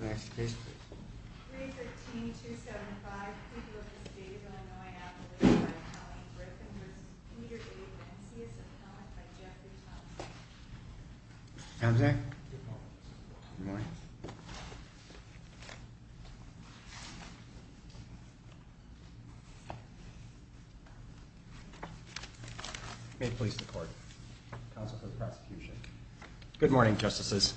315-275 People of the State of Illinois, Appalachia by Colleen Griffin v. Peter A. Ventsias, Appellant by Jeffrey Thompson Good morning. May it please the Court. Counsel for the Prosecution. Good morning, Justices.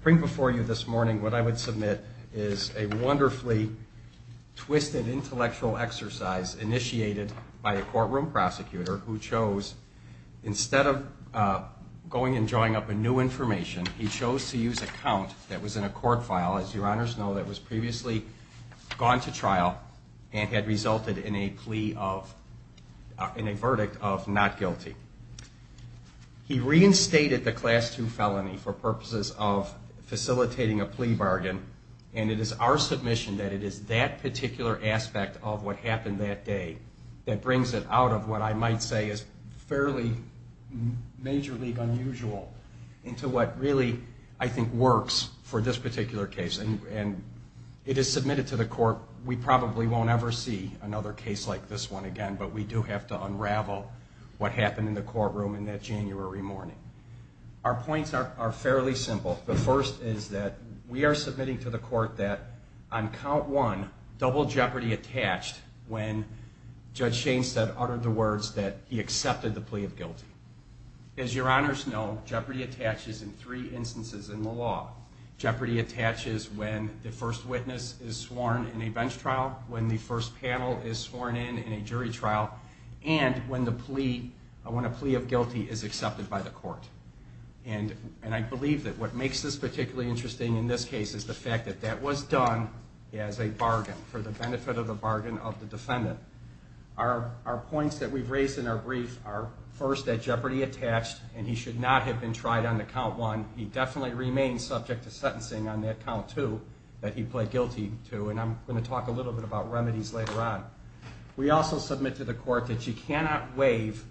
I bring before you this morning what I would submit is a wonderfully twisted intellectual exercise initiated by a courtroom prosecutor who chose, instead of going and drawing up new information, he chose to use a count that was in a court file, as your Honors know, that was previously gone to trial and had resulted in a plea of, in a verdict of not guilty. He reinstated the Class II felony for purposes of facilitating a plea bargain and it is our submission that it is that particular aspect of what happened that day that brings it out of what I might say is fairly majorly unusual into what really, I think, works for this particular case. And it is submitted to the Court. We probably won't ever see another case like this one again, but we do have to unravel what happened in the courtroom in that January morning. Our points are fairly simple. The first is that we are submitting to the Court that on count one, double jeopardy attached when Judge Shainstead uttered the words that he accepted the plea of guilty. As your Honors know, jeopardy attaches in three instances in the law. Jeopardy attaches when the first witness is sworn in a bench trial, when the first panel is sworn in in a jury trial, and when the plea, when a plea of guilty is accepted by the Court. And I believe that what makes this particularly interesting in this case is the fact that that was done as a bargain for the benefit of the bargain of the defendant. Our points that we've raised in our brief are first that jeopardy attached and he should not have been tried on the count one. He definitely remains subject to sentencing on that count two that he pled guilty to, and I'm going to talk a little bit about remedies later on. We also submit to the Court that you cannot waive,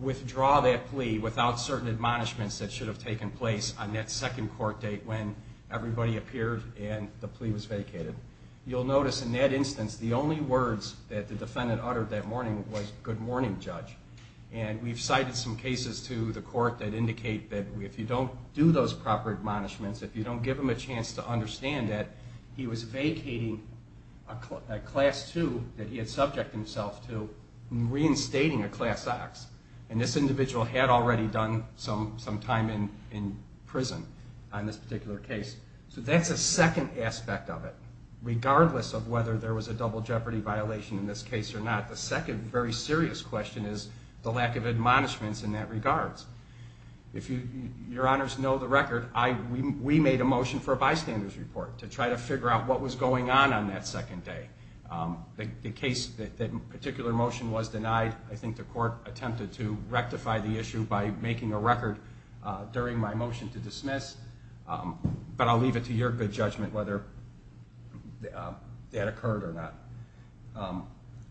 withdraw that plea without certain admonishments that should have taken place on that second court date when everybody appeared and the plea was vacated. You'll notice in that instance the only words that the defendant uttered that morning was good morning, Judge. And we've cited some cases to the Court that indicate that if you don't do those proper admonishments, if you don't give him a chance to understand that, he was vacating a class two that he had subject himself to and reinstating a class X. And this individual had already done some time in prison on this particular case. So that's a second aspect of it. Regardless of whether there was a double jeopardy violation in this case or not, the second very serious question is the lack of admonishments in that regards. If your honors know the record, we made a motion for a bystander's report to try to figure out what was going on on that second day. The case, the particular motion was denied. I think the Court attempted to rectify the issue by making a record during my motion to dismiss. But I'll leave it to your good judgment whether that occurred or not.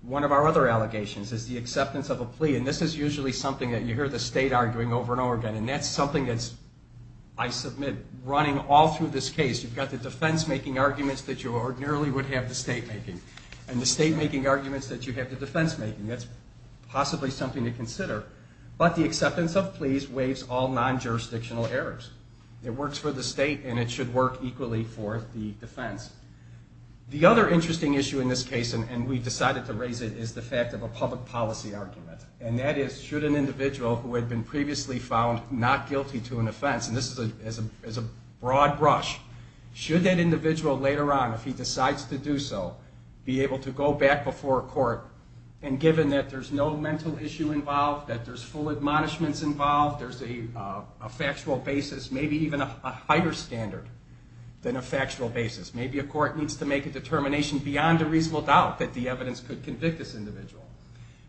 One of our other allegations is the acceptance of a plea. And this is usually something that you hear the state arguing over and over again. And that's something that's, I submit, running all through this case. You've got the defense making arguments that you ordinarily would have the state making. And the state making arguments that you have the defense making. That's possibly something to consider. But the acceptance of pleas waives all non-jurisdictional errors. It works for the state and it should work equally for the defense. The other interesting issue in this case, and we decided to raise it, is the fact of a public policy argument. And that is, should an individual who had been previously found not guilty to an offense, and this is a broad brush, should that individual later on, if he decides to do so, be able to go back before a court and given that there's no mental issue involved, that there's full admonishments involved, there's a factual basis maybe even a higher standard than a factual basis. Maybe a court needs to make a determination beyond a reasonable doubt that the evidence could convict this individual.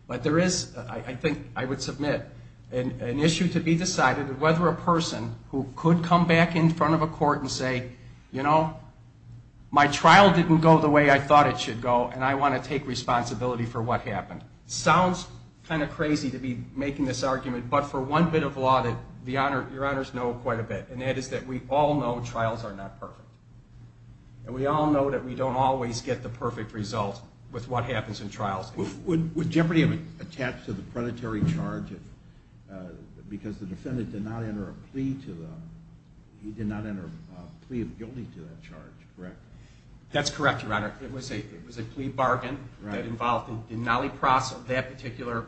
But there is, I think, I would submit, an issue to be decided of whether a person who could come back in front of a court and say, you know, my trial didn't go the way I thought it should go and I want to take responsibility for what happened. Sounds kind of crazy to be making this argument, but for one bit of law that your honors know quite a bit about. And that is that we all know trials are not perfect. And we all know that we don't always get the perfect result with what happens in trials. With Jeopardy! attached to the predatory charge, because the defendant did not enter a plea of guilty to that charge, correct? That's correct, your honor. It was a plea bargain that involved the nalipraso, that particular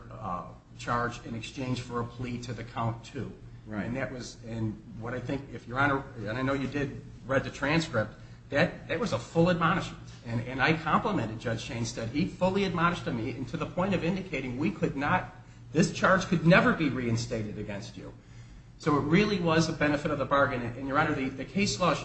charge in exchange for a plea to the count too. And that was, and what I think, if your honor, and I know you did read the transcript, that was a full admonishment. And I complimented Judge Shainstead. He fully admonished me to the point of indicating we could not, this charge could never be reinstated against you. So it really was a benefit of the bargain. And your honor, the case law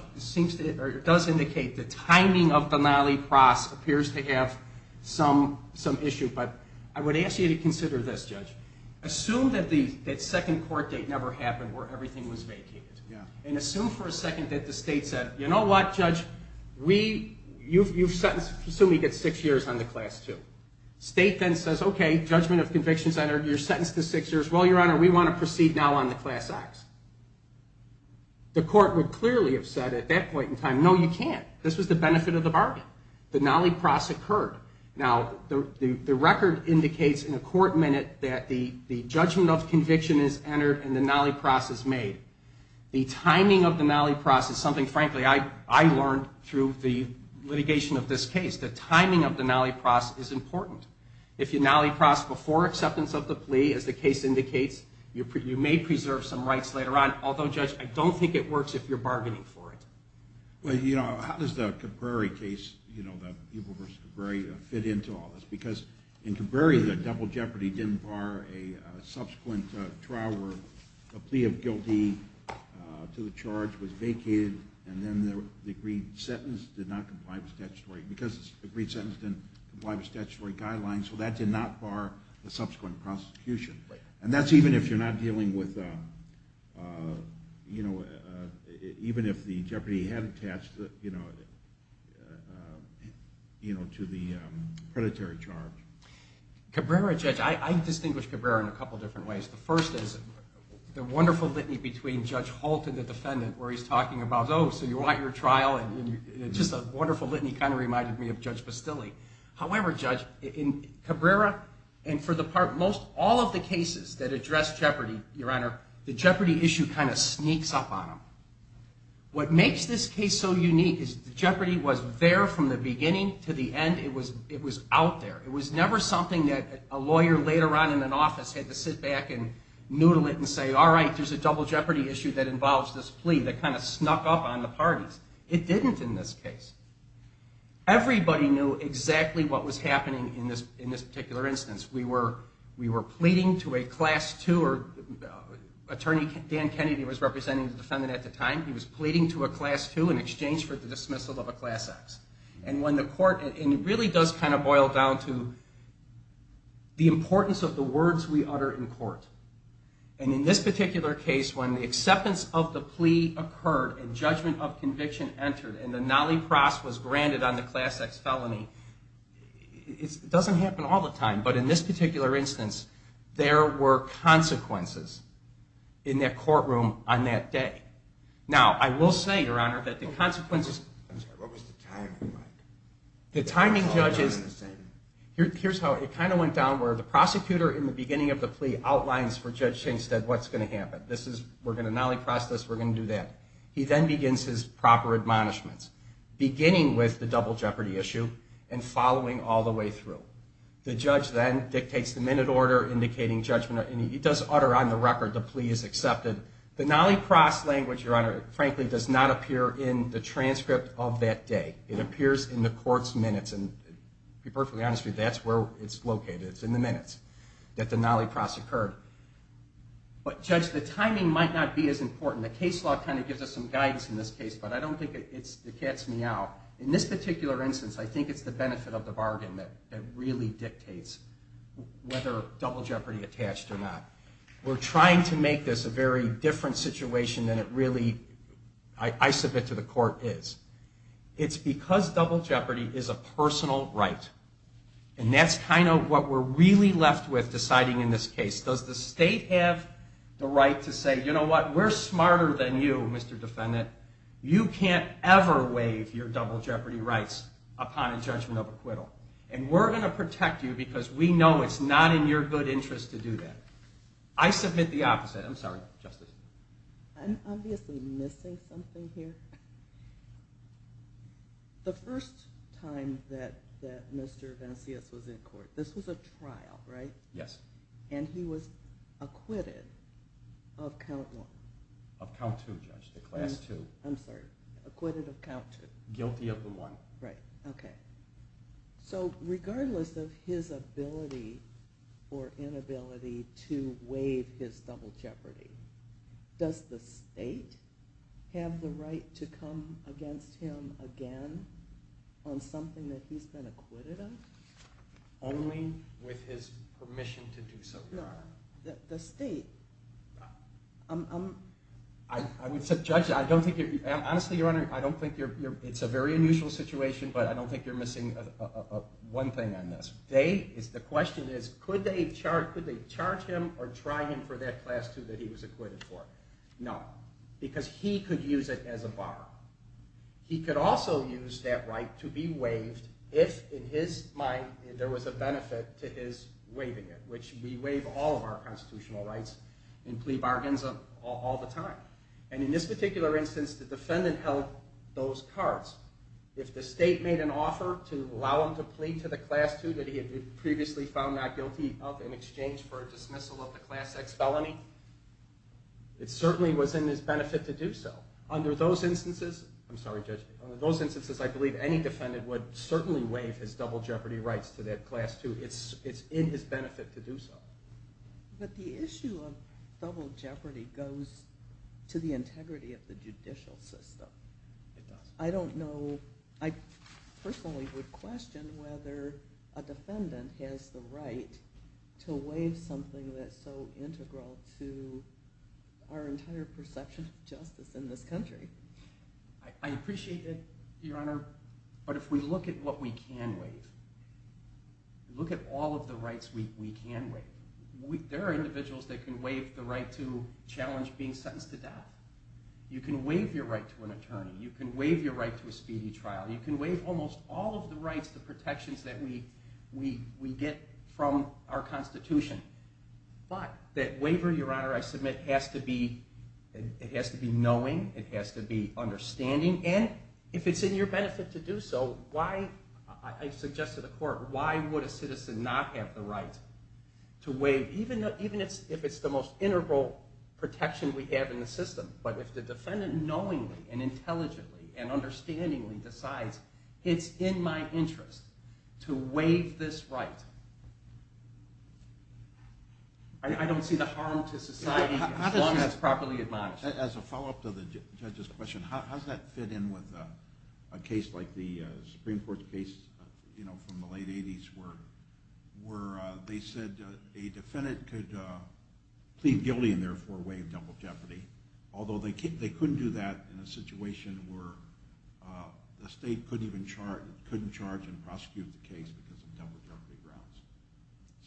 does indicate the timing of the nalipraso appears to have some issue. But I would ask you to consider this, judge. Assume that the second court date never happened where everything was vacated. And assume for a second that the state said, you know what, judge, we, you've sentenced, assume you get six years on the class two. State then says, okay, judgment of convictions entered, you're sentenced to six years. Well, your honor, we want to proceed now on the class acts. The court would clearly have said at that point in time, no, you can't. This was the benefit of the bargain. The nalipraso occurred. Now, the record indicates in a court minute that the judgment of conviction is entered and the nalipraso is made. The timing of the nalipraso is something, frankly, I learned through the litigation of this case. The timing of the nalipraso is important. If you nalipraso before acceptance of the plea, as the case indicates, you may preserve some rights later on. Although, judge, I don't think it works if you're bargaining for it. Well, you know, how does the Caprari case, you know, the people versus Caprari fit into all this? Because in Caprari, the double jeopardy didn't bar a subsequent trial where a plea of guilty to the charge was vacated and then the agreed sentence did not comply with statutory, because the agreed sentence didn't comply with statutory guidelines, so that did not bar the subsequent prosecution. And that's even if you're not dealing with, you know, even if the jeopardy had attached, you know, to the predatory charge. Caprari, judge, I distinguish Caprari in a couple different ways. The first is the wonderful litany between Judge Holt and the defendant where he's talking about, oh, so you want your trial, and just a wonderful litany kind of reminded me of Judge Bastilli. However, judge, in Caprari, and for the part most, all of the cases that address jeopardy, your honor, the jeopardy issue kind of sneaks up on them. What makes this case so unique is the jeopardy was there from the beginning to the end. It was out there. It was never something that a lawyer later on in an office had to sit back and noodle it and say, all right, there's a double jeopardy issue that involves this plea that kind of snuck up on the parties. It didn't in this case. Everybody knew exactly what was happening in this particular instance. We were pleading to a class two, or attorney Dan Kennedy was representing the defendant at the time. He was pleading to a class two in exchange for the dismissal of a class X. And when the court, and it really does kind of boil down to the importance of the words we utter in court. And in this particular case, when the acceptance of the plea occurred, and judgment of conviction entered, and the nolle pros was granted on the class X felony, it doesn't happen all the time. But in this particular instance, there were consequences in that courtroom on that day. Now, I will say, your honor, that the consequences. I'm sorry, what was the timing like? Here's how it kind of went down, where the prosecutor in the beginning of the plea outlines for Judge Hingstead what's going to happen. We're going to nolle pros this, we're going to do that. He then begins his proper admonishments, beginning with the double jeopardy issue and following all the way through. The judge then dictates the minute order indicating judgment. And he does utter on the record, the plea is accepted. The nolle pros language, your honor, frankly, does not appear in the transcript of that day. It appears in the court's minutes. And to be perfectly honest with you, that's where it's located. It's in the minutes that the nolle pros occurred. But judge, the timing might not be as important. The case law kind of gives us some guidance in this case, but I don't think it gets me out. In this particular instance, I think it's the benefit of the bargain that really dictates whether double jeopardy attached or not. We're trying to make this a very different situation than it really, I submit to the court, is. It's because double jeopardy is a personal right. And that's kind of what we're really left with deciding in this case. Does the state have the right to say, you know what, we're smarter than you, Mr. Defendant. You can't ever waive your double jeopardy rights upon a judgment of acquittal. And we're going to protect you because we know it's not in your good interest to do that. I submit the opposite. I'm sorry, Justice. I'm obviously missing something here. The first time that Mr. Venceas was in court, this was a trial, right? Yes. And he was acquitted of count one. Of count two, Judge, the class two. I'm sorry, acquitted of count two. Guilty of the one. Right, okay. So regardless of his ability or inability to waive his double jeopardy, does the state have the right to come against him again on something that he's been acquitted of? Only with his permission to do so, Your Honor. The state. I would say, Judge, I don't think you're – honestly, Your Honor, I don't think you're – it's a very unusual situation, but I don't think you're missing one thing on this. The question is, could they charge him or try him for that class two that he was acquitted for? No, because he could use it as a bar. He could also use that right to be waived if, in his mind, there was a benefit to his waiving it, which we waive all of our constitutional rights in plea bargains all the time. And in this particular instance, the defendant held those cards. If the state made an offer to allow him to plead to the class two that he had previously found not guilty of in exchange for a dismissal of the class X felony, it certainly was in his benefit to do so. Under those instances – I'm sorry, Judge – under those instances, I believe any defendant would certainly waive his double jeopardy rights to that class two. It's in his benefit to do so. But the issue of double jeopardy goes to the integrity of the judicial system. It does. I don't know – I personally would question whether a defendant has the right to waive something that's so integral to our entire perception of justice in this country. I appreciate it, Your Honor, but if we look at what we can waive, look at all of the rights we can waive, there are individuals that can waive the right to challenge being sentenced to death. You can waive your right to an attorney. You can waive your right to a speedy trial. You can waive almost all of the rights, the protections that we get from our Constitution. But that waiver, Your Honor, I submit has to be – it has to be knowing. It has to be understanding. And if it's in your benefit to do so, why – I suggest to the court, why would a citizen not have the right to waive – even if it's the most integral protection we have in the system. But if the defendant knowingly and intelligently and understandingly decides it's in my interest to waive this right, I don't see the harm to society as long as it's properly admonished. As a follow-up to the judge's question, how does that fit in with a case like the Supreme Court's case from the late 80s where they said a defendant could plead guilty and therefore waive double jeopardy, although they couldn't do that in a situation where the state couldn't even charge and prosecute the case because of double jeopardy grounds.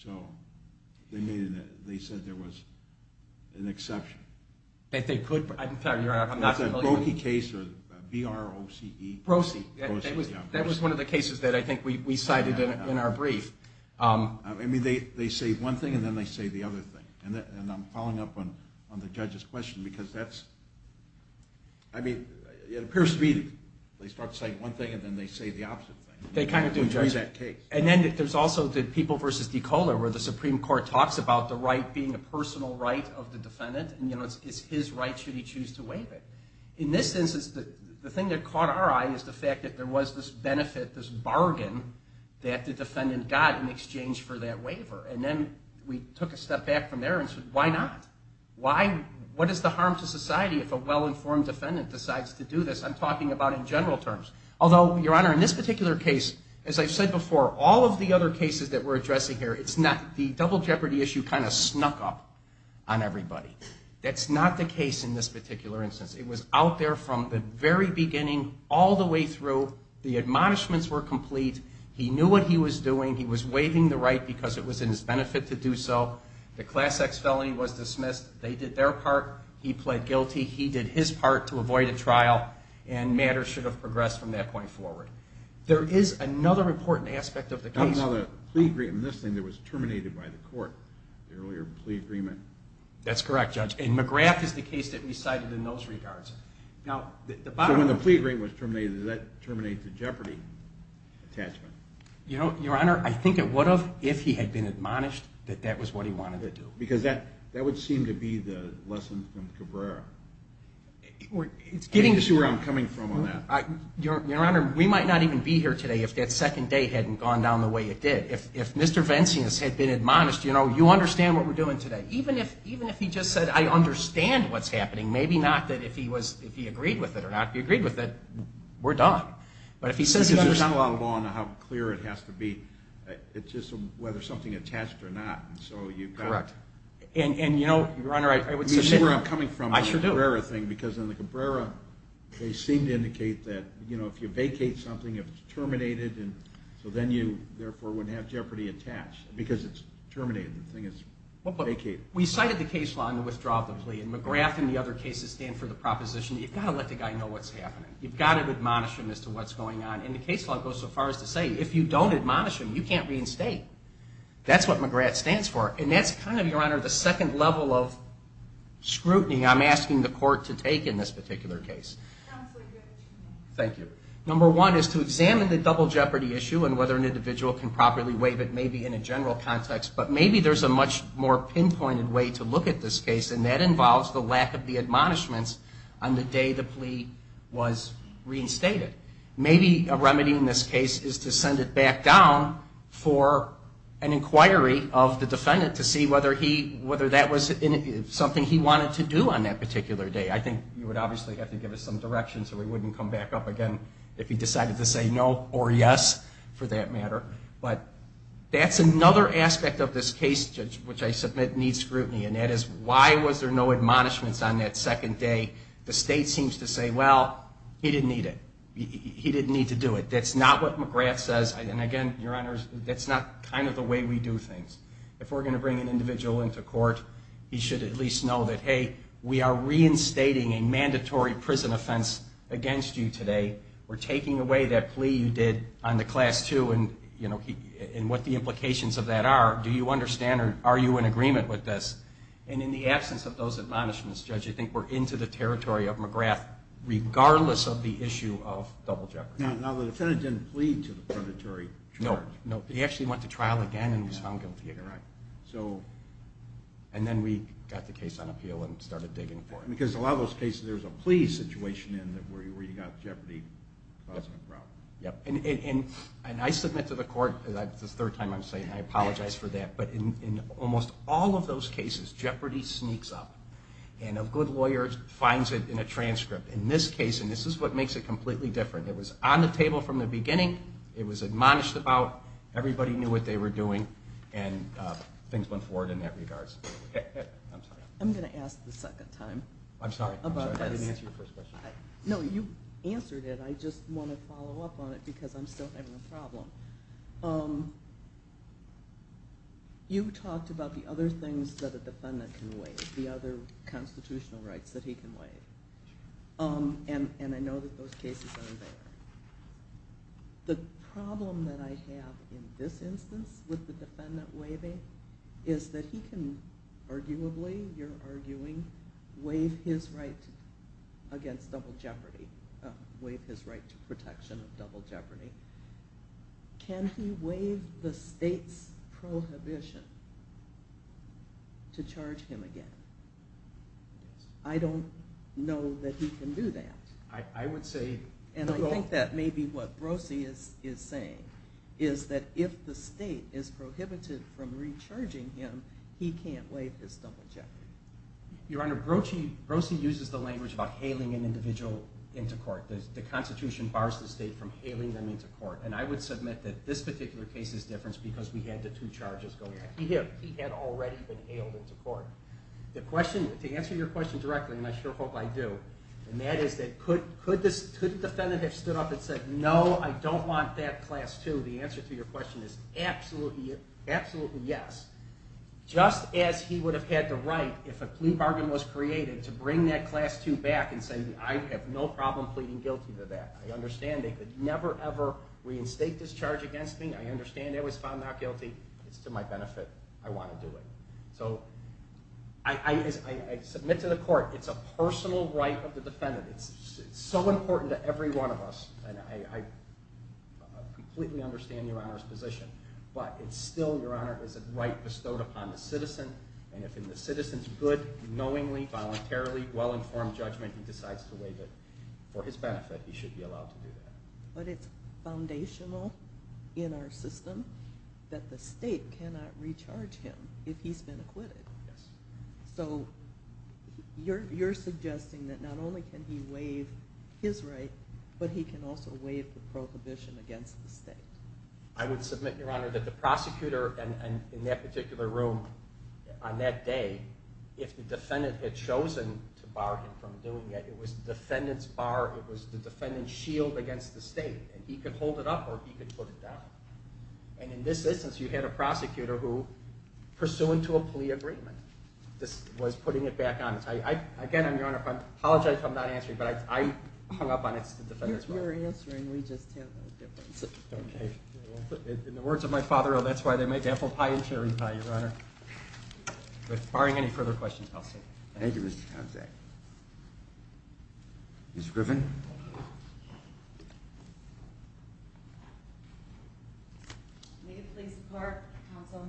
So they said there was an exception. That they could – I'm sorry, Your Honor, I'm not familiar with – It's a Broce case, or B-R-O-C-E. Broce. That was one of the cases that I think we cited in our brief. I mean, they say one thing and then they say the other thing. And I'm following up on the judge's question because that's – I mean, it appears to me they start saying one thing and then they say the opposite thing. They kind of do, Judge. And then there's also the People v. Decola where the Supreme Court talks about the right being a personal right of the defendant. And, you know, it's his right should he choose to waive it. In this instance, the thing that caught our eye is the fact that there was this benefit, this bargain that the defendant got in exchange for that waiver. And then we took a step back from there and said, why not? Why – what is the harm to society if a well-informed defendant decides to do this? I'm talking about in general terms. Although, Your Honor, in this particular case, as I've said before, all of the other cases that we're addressing here, it's not – the double jeopardy issue kind of snuck up on everybody. That's not the case in this particular instance. It was out there from the very beginning all the way through. The admonishments were complete. He knew what he was doing. He was waiving the right because it was in his benefit to do so. The Class X felony was dismissed. They did their part. He pled guilty. He did his part to avoid a trial. And matters should have progressed from that point forward. There is another important aspect of the case. I saw the plea agreement in this thing that was terminated by the court, the earlier plea agreement. That's correct, Judge. And McGrath is the case that we cited in those regards. So when the plea agreement was terminated, did that terminate the jeopardy attachment? Your Honor, I think it would have if he had been admonished that that was what he wanted to do. Because that would seem to be the lesson from Cabrera. I can't see where I'm coming from on that. Your Honor, we might not even be here today if that second day hadn't gone down the way it did. If Mr. Venceance had been admonished, you know, you understand what we're doing today. Even if he just said, I understand what's happening, maybe not that if he agreed with it or not. If he agreed with it, we're done. But if he says he understands. It's not a lot of law on how clear it has to be. It's just whether something attached or not. Correct. And, you know, Your Honor, I would suggest. You see where I'm coming from on the Cabrera thing. I sure do. Because on the Cabrera, they seem to indicate that, you know, if you vacate something, if it's terminated. So then you, therefore, wouldn't have jeopardy attached. Because it's terminated. The thing is vacated. We cited the case law in the withdrawal of the plea. And McGrath and the other cases stand for the proposition that you've got to let the guy know what's happening. You've got to admonish him as to what's going on. And the case law goes so far as to say if you don't admonish him, you can't reinstate. That's what McGrath stands for. And that's kind of, Your Honor, the second level of scrutiny I'm asking the court to take. In this particular case. Absolutely. Thank you. Number one is to examine the double jeopardy issue and whether an individual can properly waive it. Maybe in a general context. But maybe there's a much more pinpointed way to look at this case. And that involves the lack of the admonishments on the day the plea was reinstated. Maybe a remedy in this case is to send it back down for an inquiry of the defendant. To see whether that was something he wanted to do on that particular day. I think you would obviously have to give us some direction so we wouldn't come back up again if he decided to say no or yes for that matter. But that's another aspect of this case, Judge, which I submit needs scrutiny. And that is why was there no admonishments on that second day? The state seems to say, well, he didn't need it. He didn't need to do it. That's not what McGrath says. And, again, Your Honor, that's not kind of the way we do things. If we're going to bring an individual into court, he should at least know that, hey, we are reinstating a mandatory prison offense against you today. We're taking away that plea you did on the class two and what the implications of that are. Do you understand or are you in agreement with this? And in the absence of those admonishments, Judge, I think we're into the territory of McGrath, regardless of the issue of double jeopardy. Now, the defendant didn't plea to the predatory charge. No, he actually went to trial again and was found guilty again. And then we got the case on appeal and started digging for it. Because in a lot of those cases, there's a plea situation where you've got jeopardy causing a problem. And I submit to the court, this is the third time I'm saying it, and I apologize for that, but in almost all of those cases, jeopardy sneaks up. And a good lawyer finds it in a transcript. In this case, and this is what makes it completely different, it was on the table from the beginning. It was admonished about. Everybody knew what they were doing. And things went forward in that regard. I'm sorry. I'm going to ask the second time. I'm sorry. I didn't answer your first question. No, you answered it. I just want to follow up on it because I'm still having a problem. You talked about the other things that a defendant can waive, the other constitutional rights that he can waive. And I know that those cases are there. The problem that I have in this instance with the defendant waiving is that he can arguably, you're arguing, waive his right against double jeopardy. Waive his right to protection of double jeopardy. Can he waive the state's prohibition to charge him again? I don't know that he can do that. I would say. And I think that may be what Brosey is saying, is that if the state is prohibited from recharging him, he can't waive his double jeopardy. Your Honor, Brosey uses the language about hailing an individual into court. The Constitution bars the state from hailing them into court. And I would submit that this particular case is different because we had the two charges going on. He had already been hailed into court. The question, to answer your question directly, and I sure hope I do, and that is that could the defendant have stood up and said, no, I don't want that class 2. The answer to your question is absolutely yes. Just as he would have had the right, if a plea bargain was created, to bring that class 2 back and say, I have no problem pleading guilty to that. I understand they could never, ever reinstate this charge against me. I understand that was found not guilty. It's to my benefit. I want to do it. So I submit to the court, it's a personal right of the defendant. It's so important to every one of us. And I completely understand your Honor's position. But it's still, your Honor, it's a right bestowed upon the citizen. And if the citizen's good, knowingly, voluntarily, well-informed judgment, he decides to waive it. For his benefit, he should be allowed to do that. But it's foundational in our system that the state cannot recharge him if he's been acquitted. Yes. So you're suggesting that not only can he waive his right, but he can also waive the prohibition against the state. I would submit, your Honor, that the prosecutor in that particular room on that day, if the defendant had chosen to bar him from doing it, it was the defendant's bar, it was the defendant's shield against the state. And he could hold it up or he could put it down. And in this instance, you had a prosecutor who, pursuant to a plea agreement, was putting it back on. Again, your Honor, I apologize if I'm not answering, but I hung up on it. It's the defendant's right. You're answering. We just have no difference. Okay. In the words of my father, oh, that's why they make apple pie and cherry pie, your Honor. With barring any further questions, I'll say. Thank you, Mr. Konczak. Ms. Griffin. May it please the court, counsel.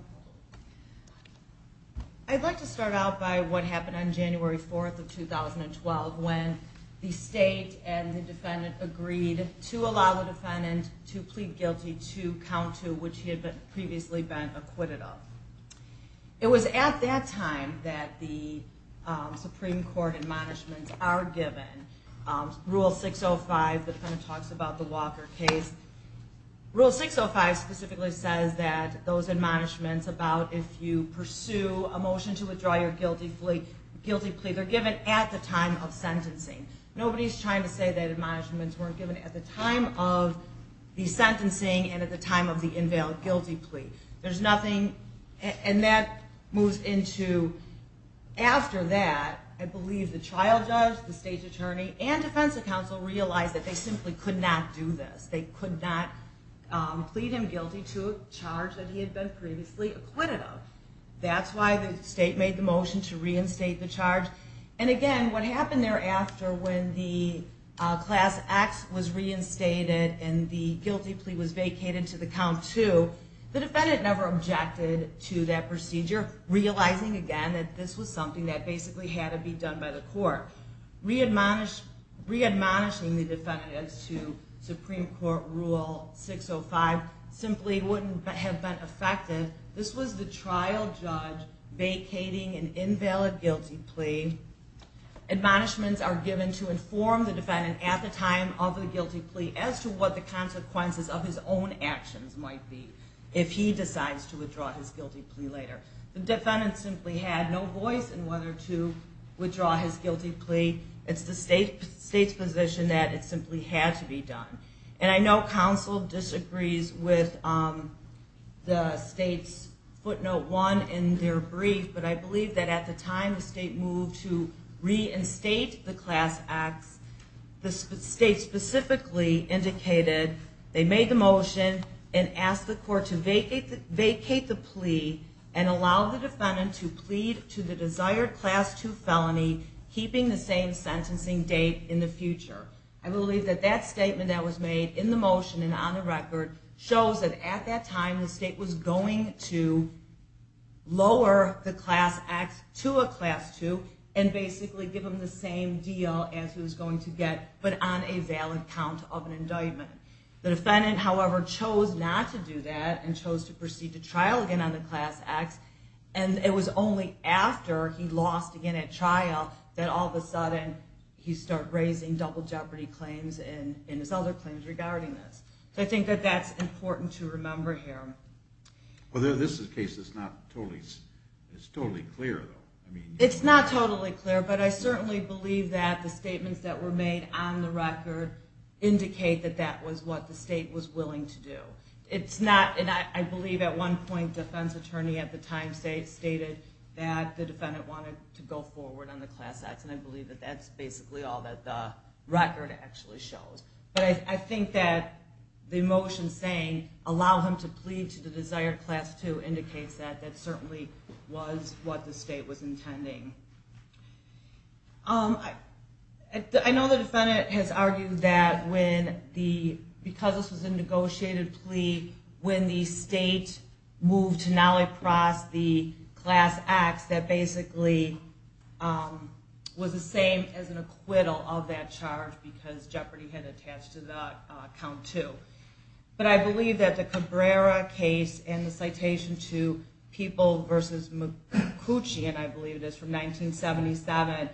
I'd like to start out by what happened on January 4th of 2012 when the state and the defendant agreed to allow the defendant to plead guilty to count two, which he had previously been acquitted of. It was at that time that the Supreme Court admonishments are given. Rule 605, the defendant talks about the Walker case. Rule 605 specifically says that those admonishments about if you pursue a motion to withdraw your guilty plea, they're given at the time of sentencing. Nobody's trying to say that admonishments weren't given at the time of the sentencing and at the time of the invalid guilty plea. There's nothing, and that moves into after that, I believe the trial judge, the state attorney, and defense counsel realized that they simply could not do this. They could not plead him guilty to a charge that he had been previously acquitted of. That's why the state made the motion to reinstate the charge. And again, what happened thereafter when the Class X was reinstated and the guilty plea was vacated to the count two, the defendant never objected to that procedure, realizing again that this was something that basically had to be done by the court. Readmonishing the defendants to Supreme Court Rule 605 simply wouldn't have been effective. This was the trial judge vacating an invalid guilty plea. Admonishments are given to inform the defendant at the time of the guilty plea as to what the consequences of his own actions might be if he decides to withdraw his guilty plea later. The defendant simply had no voice in whether to withdraw his guilty plea. It's the state's position that it simply had to be done. And I know counsel disagrees with the state's footnote one in their brief, but I believe that at the time the state moved to reinstate the Class X, the state specifically indicated they made the motion and asked the court to vacate the plea and allow the defendant to plead to the desired Class II felony, keeping the same sentencing date in the future. I believe that that statement that was made in the motion and on the record shows that at that time the state was going to lower the Class X to a Class II and basically give him the same deal as he was going to get, but on a valid count of an indictment. The defendant, however, chose not to do that and chose to proceed to trial again on the Class X, and it was only after he lost again at trial that all of a sudden he started raising double jeopardy claims and his other claims regarding this. So I think that that's important to remember here. Well, this is a case that's not totally clear, though. It's not totally clear, but I certainly believe that the statements that were made on the record indicate that that was what the state was willing to do. I believe at one point the defense attorney at the time stated that the defendant wanted to go forward on the Class X, and I believe that that's basically all that the record actually shows. But I think that the motion saying allow him to plead to the desired Class II indicates that that certainly was what the state was intending. I know the defendant has argued that because this was a negotiated plea, when the state moved to Nalipras, the Class X, that basically was the same as an acquittal of that charge because jeopardy had attached to the Count II. But I believe that the Cabrera case and the citation to People v. McCoochee, and I believe it is from 1977,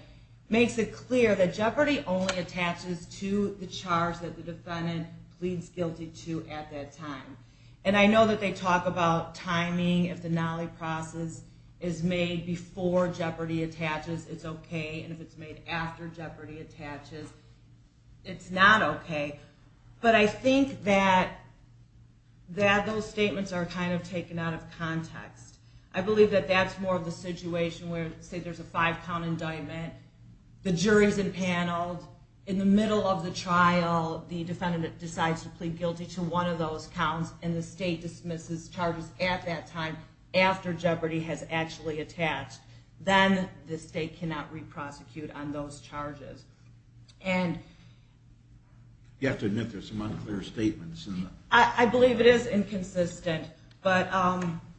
makes it clear that jeopardy only attaches to the charge that the defendant pleads guilty to at that time. And I know that they talk about timing. If the Nalipras is made before jeopardy attaches, it's okay, and if it's made after jeopardy attaches, it's not okay. But I think that those statements are kind of taken out of context. I believe that that's more of the situation where, say, there's a five-count indictment, the jury's impaneled, in the middle of the trial, the defendant decides to plead guilty to one of those counts, and the state dismisses charges at that time after jeopardy has actually attached. Then the state cannot re-prosecute on those charges. You have to admit there's some unclear statements. I believe it is inconsistent, but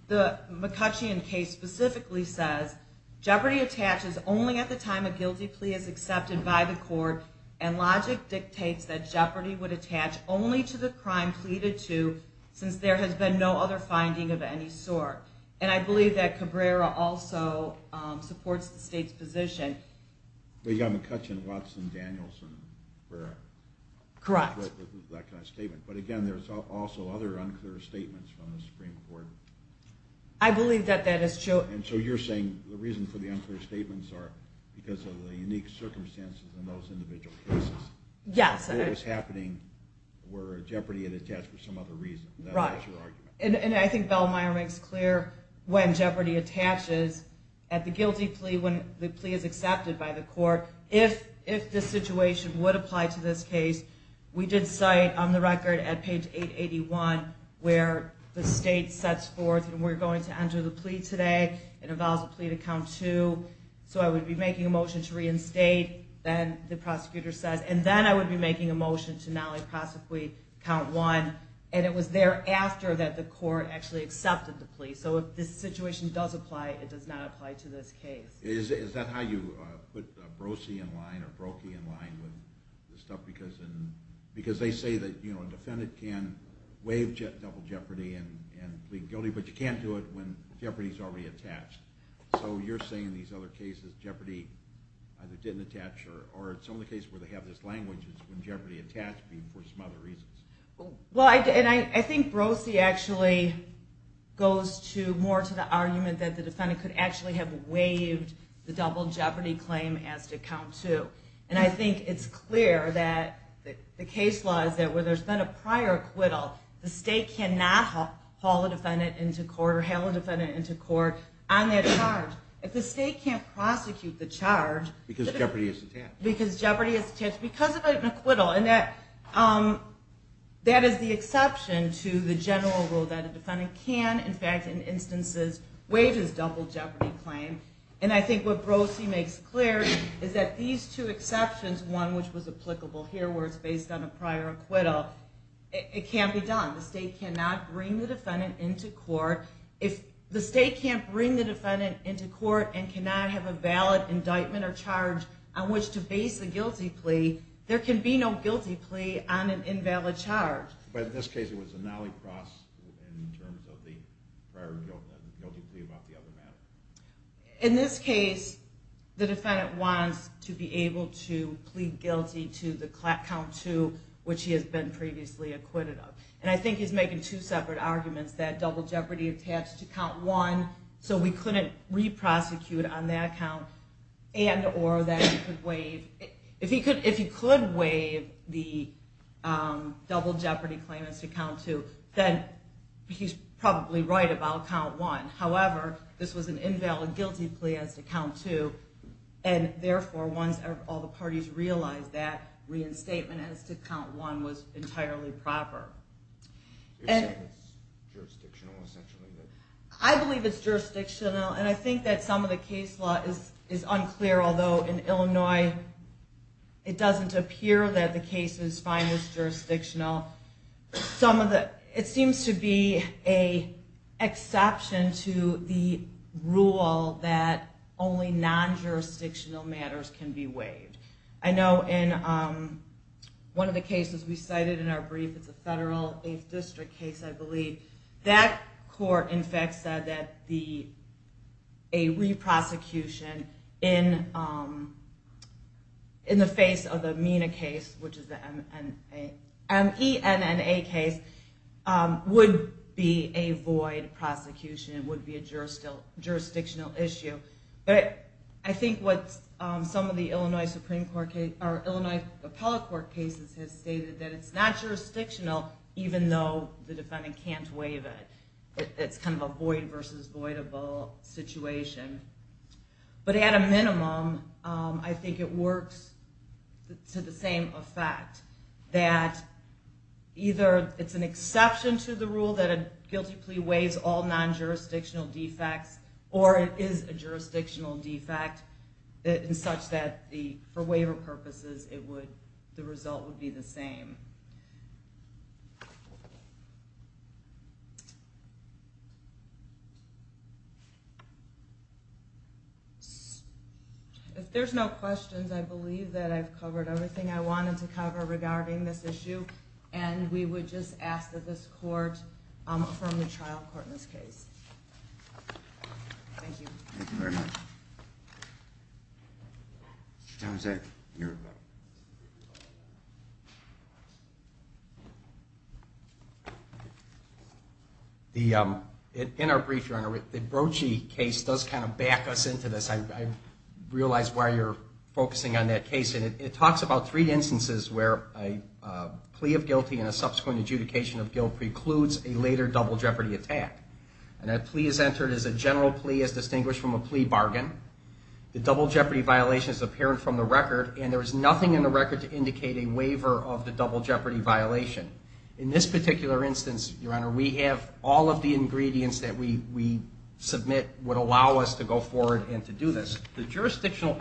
the McCoochean case specifically says, jeopardy attaches only at the time a guilty plea is accepted by the court, and logic dictates that jeopardy would attach only to the crime pleaded to, since there has been no other finding of any sort. And I believe that Cabrera also supports the state's position. But you've got McCoochean, Watson, Danielson, Carrera. Correct. That kind of statement. But again, there's also other unclear statements from the Supreme Court. I believe that that is true. And so you're saying the reason for the unclear statements are because of the unique circumstances in those individual cases. Yes. What was happening where jeopardy had attached for some other reason. Right. That was your argument. And I think Bellmeyer makes clear when jeopardy attaches, at the guilty plea when the plea is accepted by the court, if the situation would apply to this case, we did cite on the record at page 881 where the state sets forth, and we're going to enter the plea today, it involves a plea to count two, so I would be making a motion to reinstate, then the prosecutor says, and then I would be making a motion to not only prosecute, count one, and it was thereafter that the court actually accepted the plea. So if this situation does apply, it does not apply to this case. Is that how you put Brosey in line or Brokey in line with this stuff? Because they say that a defendant can waive double jeopardy and plead guilty, but you can't do it when jeopardy is already attached. So you're saying in these other cases jeopardy either didn't attach, or it's only the case where they have this language, it's when jeopardy attached for some other reasons. I think Brosey actually goes more to the argument that the defendant could actually have waived the double jeopardy claim as to count two, and I think it's clear that the case law is that where there's been a prior acquittal, the state cannot haul a defendant into court or hail a defendant into court on that charge. If the state can't prosecute the charge because jeopardy is attached, because of an acquittal, and that is the exception to the general rule that a defendant can, in fact, in instances, waive his double jeopardy claim, and I think what Brosey makes clear is that these two exceptions, one which was applicable here where it's based on a prior acquittal, it can't be done. The state cannot bring the defendant into court. If the state can't bring the defendant into court and cannot have a valid indictment or charge on which to base the guilty plea, there can be no guilty plea on an invalid charge. But in this case, it was a nollie cross in terms of the prior guilty plea about the other matter. In this case, the defendant wants to be able to plead guilty to the count two, which he has been previously acquitted of, and I think he's making two separate arguments, that double jeopardy attached to count one, so we couldn't re-prosecute on that count, and or that he could waive, if he could waive the double jeopardy claim as to count two, then he's probably right about count one. However, this was an invalid guilty plea as to count two, and therefore, once all the parties realized that, reinstatement as to count one was entirely proper. I believe it's jurisdictional, and I think that some of the case law is unclear, although in Illinois, it doesn't appear that the cases find this jurisdictional. It seems to be an exception to the rule that only non-jurisdictional matters can be waived. I know in one of the cases we cited in our brief, it's a federal 8th district case, I believe, that court, in fact, said that a re-prosecution in the face of the MENA case, which is the M-E-N-N-A case, would be a void prosecution, it would be a jurisdictional issue. But I think what some of the Illinois Supreme Court cases, or Illinois Appellate Court cases, have stated that it's not jurisdictional, even though the defendant can't waive it. It's kind of a void versus voidable situation. But at a minimum, I think it works to the same effect, that either it's an exception to the rule that a guilty plea waives all non-jurisdictional defects, or it is a jurisdictional defect, in such that for waiver purposes, the result would be the same. If there's no questions, I believe that I've covered everything I wanted to cover regarding this issue, and we would just ask that this court affirm the trial court in this case. Thank you. Thank you very much. Mr. Townsend, you're up. In our brief, Your Honor, the Brochi case does kind of back us into this. I realize why you're focusing on that case. It talks about three instances where a plea of guilty and a subsequent adjudication of guilt precludes a later double jeopardy attack. And that plea is entered as a general plea as distinguished from a plea bargain. The double jeopardy violation is apparent from the record, and there is nothing in the record to indicate a waiver of the double jeopardy violation. In this particular instance, Your Honor, we have all of the ingredients that we submit would allow us to go forward and to do this. The jurisdictional...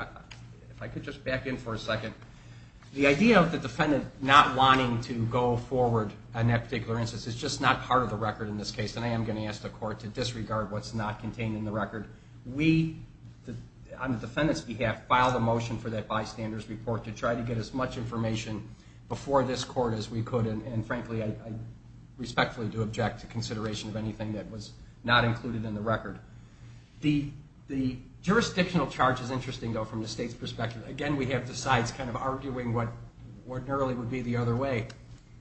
If I could just back in for a second. The idea of the defendant not wanting to go forward in that particular instance is just not part of the record in this case, and I am going to ask the court to disregard what's not contained in the record. We, on the defendant's behalf, filed a motion for that bystander's report to try to get as much information before this court as we could, and frankly, I respectfully do object to consideration of anything that was not included in the record. The jurisdictional charge is interesting, though, from the state's perspective. Again, we have the sides kind of arguing what ordinarily would be the other way.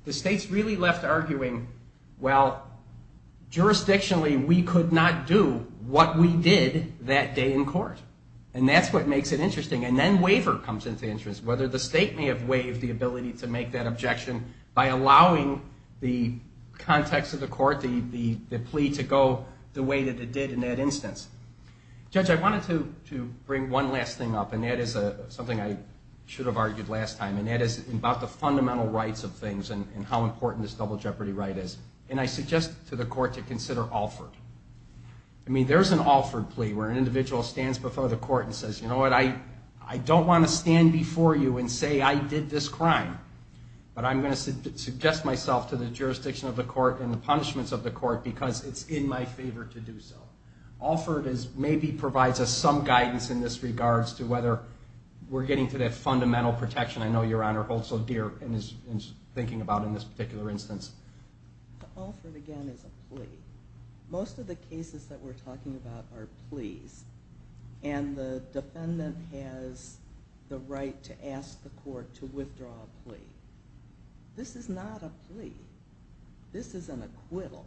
The state's really left arguing, well, jurisdictionally, we could not do what we did that day in court, and that's what makes it interesting. And then waiver comes into interest, whether the state may have waived the ability to make that objection by allowing the context of the court, the plea to go the way that it did in that instance. Judge, I wanted to bring one last thing up, and that is something I should have argued last time, and that is about the fundamental rights of things and how important this double jeopardy right is, and I suggest to the court to consider Alford. I mean, there's an Alford plea where an individual stands before the court and says, you know what, I don't want to stand before you and say I did this crime, but I'm going to suggest myself to the jurisdiction of the court and the punishments of the court because it's in my favor to do so. Alford maybe provides us some guidance in this regards to whether we're getting to that fundamental protection I know Your Honor holds so dear and is thinking about in this particular instance. Alford, again, is a plea. Most of the cases that we're talking about are pleas, and the defendant has the right to ask the court to withdraw a plea. This is not a plea. This is an acquittal.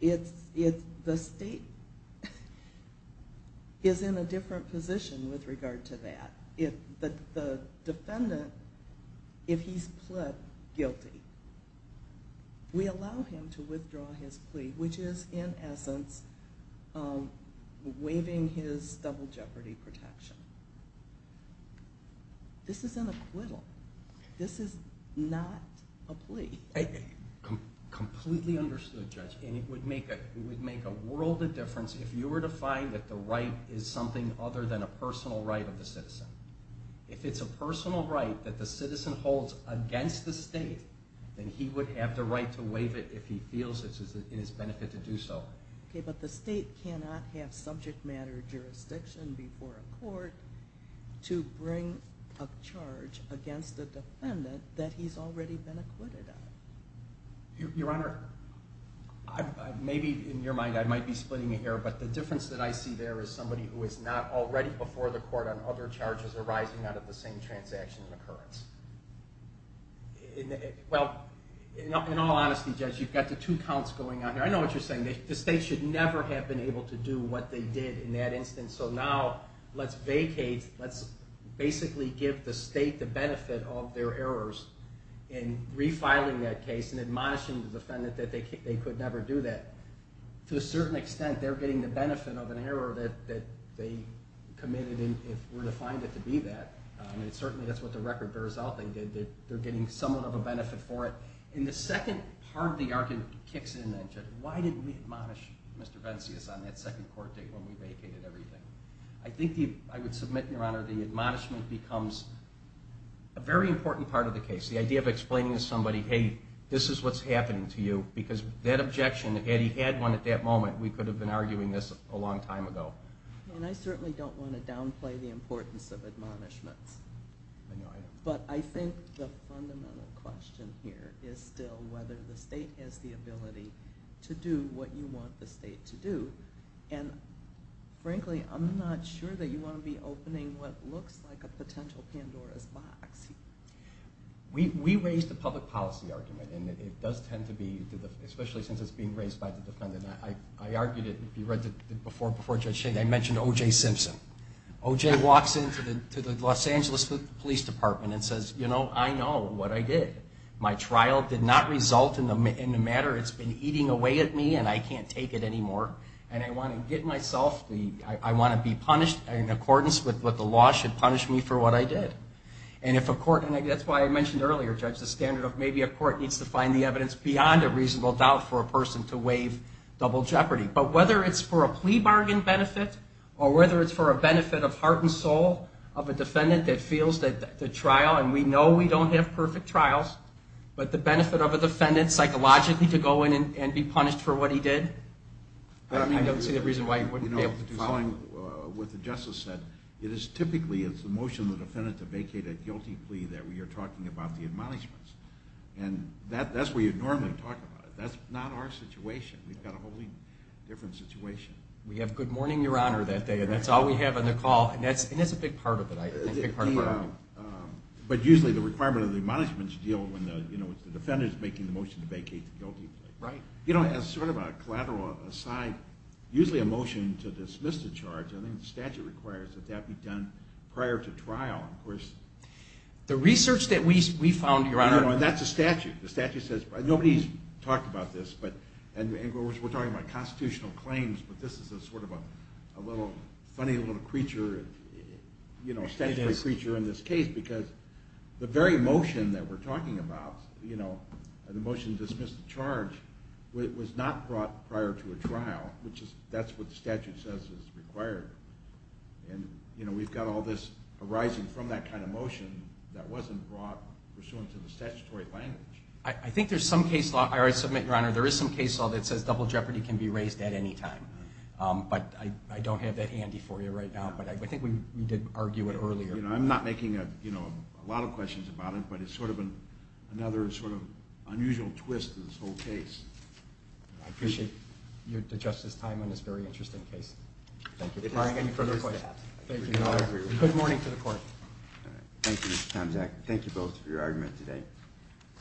The state is in a different position with regard to that. The defendant, if he's pled guilty, we allow him to withdraw his plea, which is in essence waiving his double jeopardy protection. This is an acquittal. This is not a plea. Completely understood, Judge, and it would make a world of difference if you were to find that the right is something other than a personal right of the citizen. If it's a personal right that the citizen holds against the state, then he would have the right to waive it if he feels it's in his benefit to do so. Okay, but the state cannot have subject matter jurisdiction before a court to bring a charge against a defendant that he's already been acquitted of. Your Honor, maybe in your mind I might be splitting your hair, but the difference that I see there is somebody who is not already before the court on other charges arising out of the same transaction and occurrence. Well, in all honesty, Judge, you've got the two counts going on here. I know what you're saying. The state should never have been able to do what they did in that instance, so now let's vacate, let's basically give the state the benefit of their errors in refiling that case and admonishing the defendant that they could never do that. To a certain extent, they're getting the benefit of an error that they committed if we're to find it to be that, and certainly that's what the record bears out. They're getting somewhat of a benefit for it. And the second part of the argument kicks in then, Judge. Why didn't we admonish Mr. Venzius on that second court date when we vacated everything? I think I would submit, Your Honor, the admonishment becomes a very important part of the case. The idea of explaining to somebody, hey, this is what's happening to you, because that objection, had he had one at that moment, we could have been arguing this a long time ago. And I certainly don't want to downplay the importance of admonishments. I know, I know. But I think the fundamental question here is still whether the state has the ability to do what you want the state to do. And frankly, I'm not sure that you want to be opening what looks like a potential Pandora's box. We raised a public policy argument, and it does tend to be, especially since it's being raised by the defendant, and I argued it before Judge Shane, I mentioned O.J. Simpson. O.J. walks into the Los Angeles Police Department and says, you know, I know what I did. My trial did not result in the matter. It's been eating away at me, and I can't take it anymore. And I want to get myself, I want to be punished in accordance with what the law should punish me for what I did. And if a court, and that's why I mentioned earlier, Judge, the standard of maybe a court needs to find the evidence that's beyond a reasonable doubt for a person to waive double jeopardy. But whether it's for a plea bargain benefit or whether it's for a benefit of heart and soul of a defendant that feels that the trial, and we know we don't have perfect trials, but the benefit of a defendant psychologically to go in and be punished for what he did, I don't see the reason why you wouldn't be able to follow. You know, following what the justice said, it is typically, it's the motion of the defendant to vacate a guilty plea that we are talking about the admonishments. And that's where you normally talk about it. That's not our situation. We've got a wholly different situation. We have good morning, Your Honor, that day, and that's all we have on the call, and that's a big part of it. But usually the requirement of the admonishments deal when the defendant is making the motion to vacate the guilty plea. Right. You know, as sort of a collateral aside, usually a motion to dismiss the charge, I think the statute requires that that be done prior to trial. Of course... The research that we found, Your Honor... That's a statute. The statute says... Nobody's talked about this, and we're talking about constitutional claims, but this is sort of a funny little creature, you know, a statutory creature in this case, because the very motion that we're talking about, you know, the motion to dismiss the charge, was not brought prior to a trial, which is, that's what the statute says is required. And, you know, we've got all this arising from that kind of motion that wasn't brought pursuant to the statutory language. I think there's some case law... I already submit, Your Honor, there is some case law that says double jeopardy can be raised at any time. But I don't have that handy for you right now, but I think we did argue it earlier. You know, I'm not making, you know, a lot of questions about it, but it's sort of another sort of unusual twist in this whole case. I appreciate the Justice's time on this very interesting case. Thank you. If there's any further questions... Good morning to the court. Thank you, Mr. Tomczak. Thank you both for your argument today.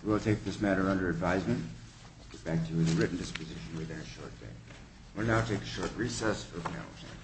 We will take this matter under advisement. We'll get back to the written disposition within a short bit. We'll now take a short recess for panel discussion.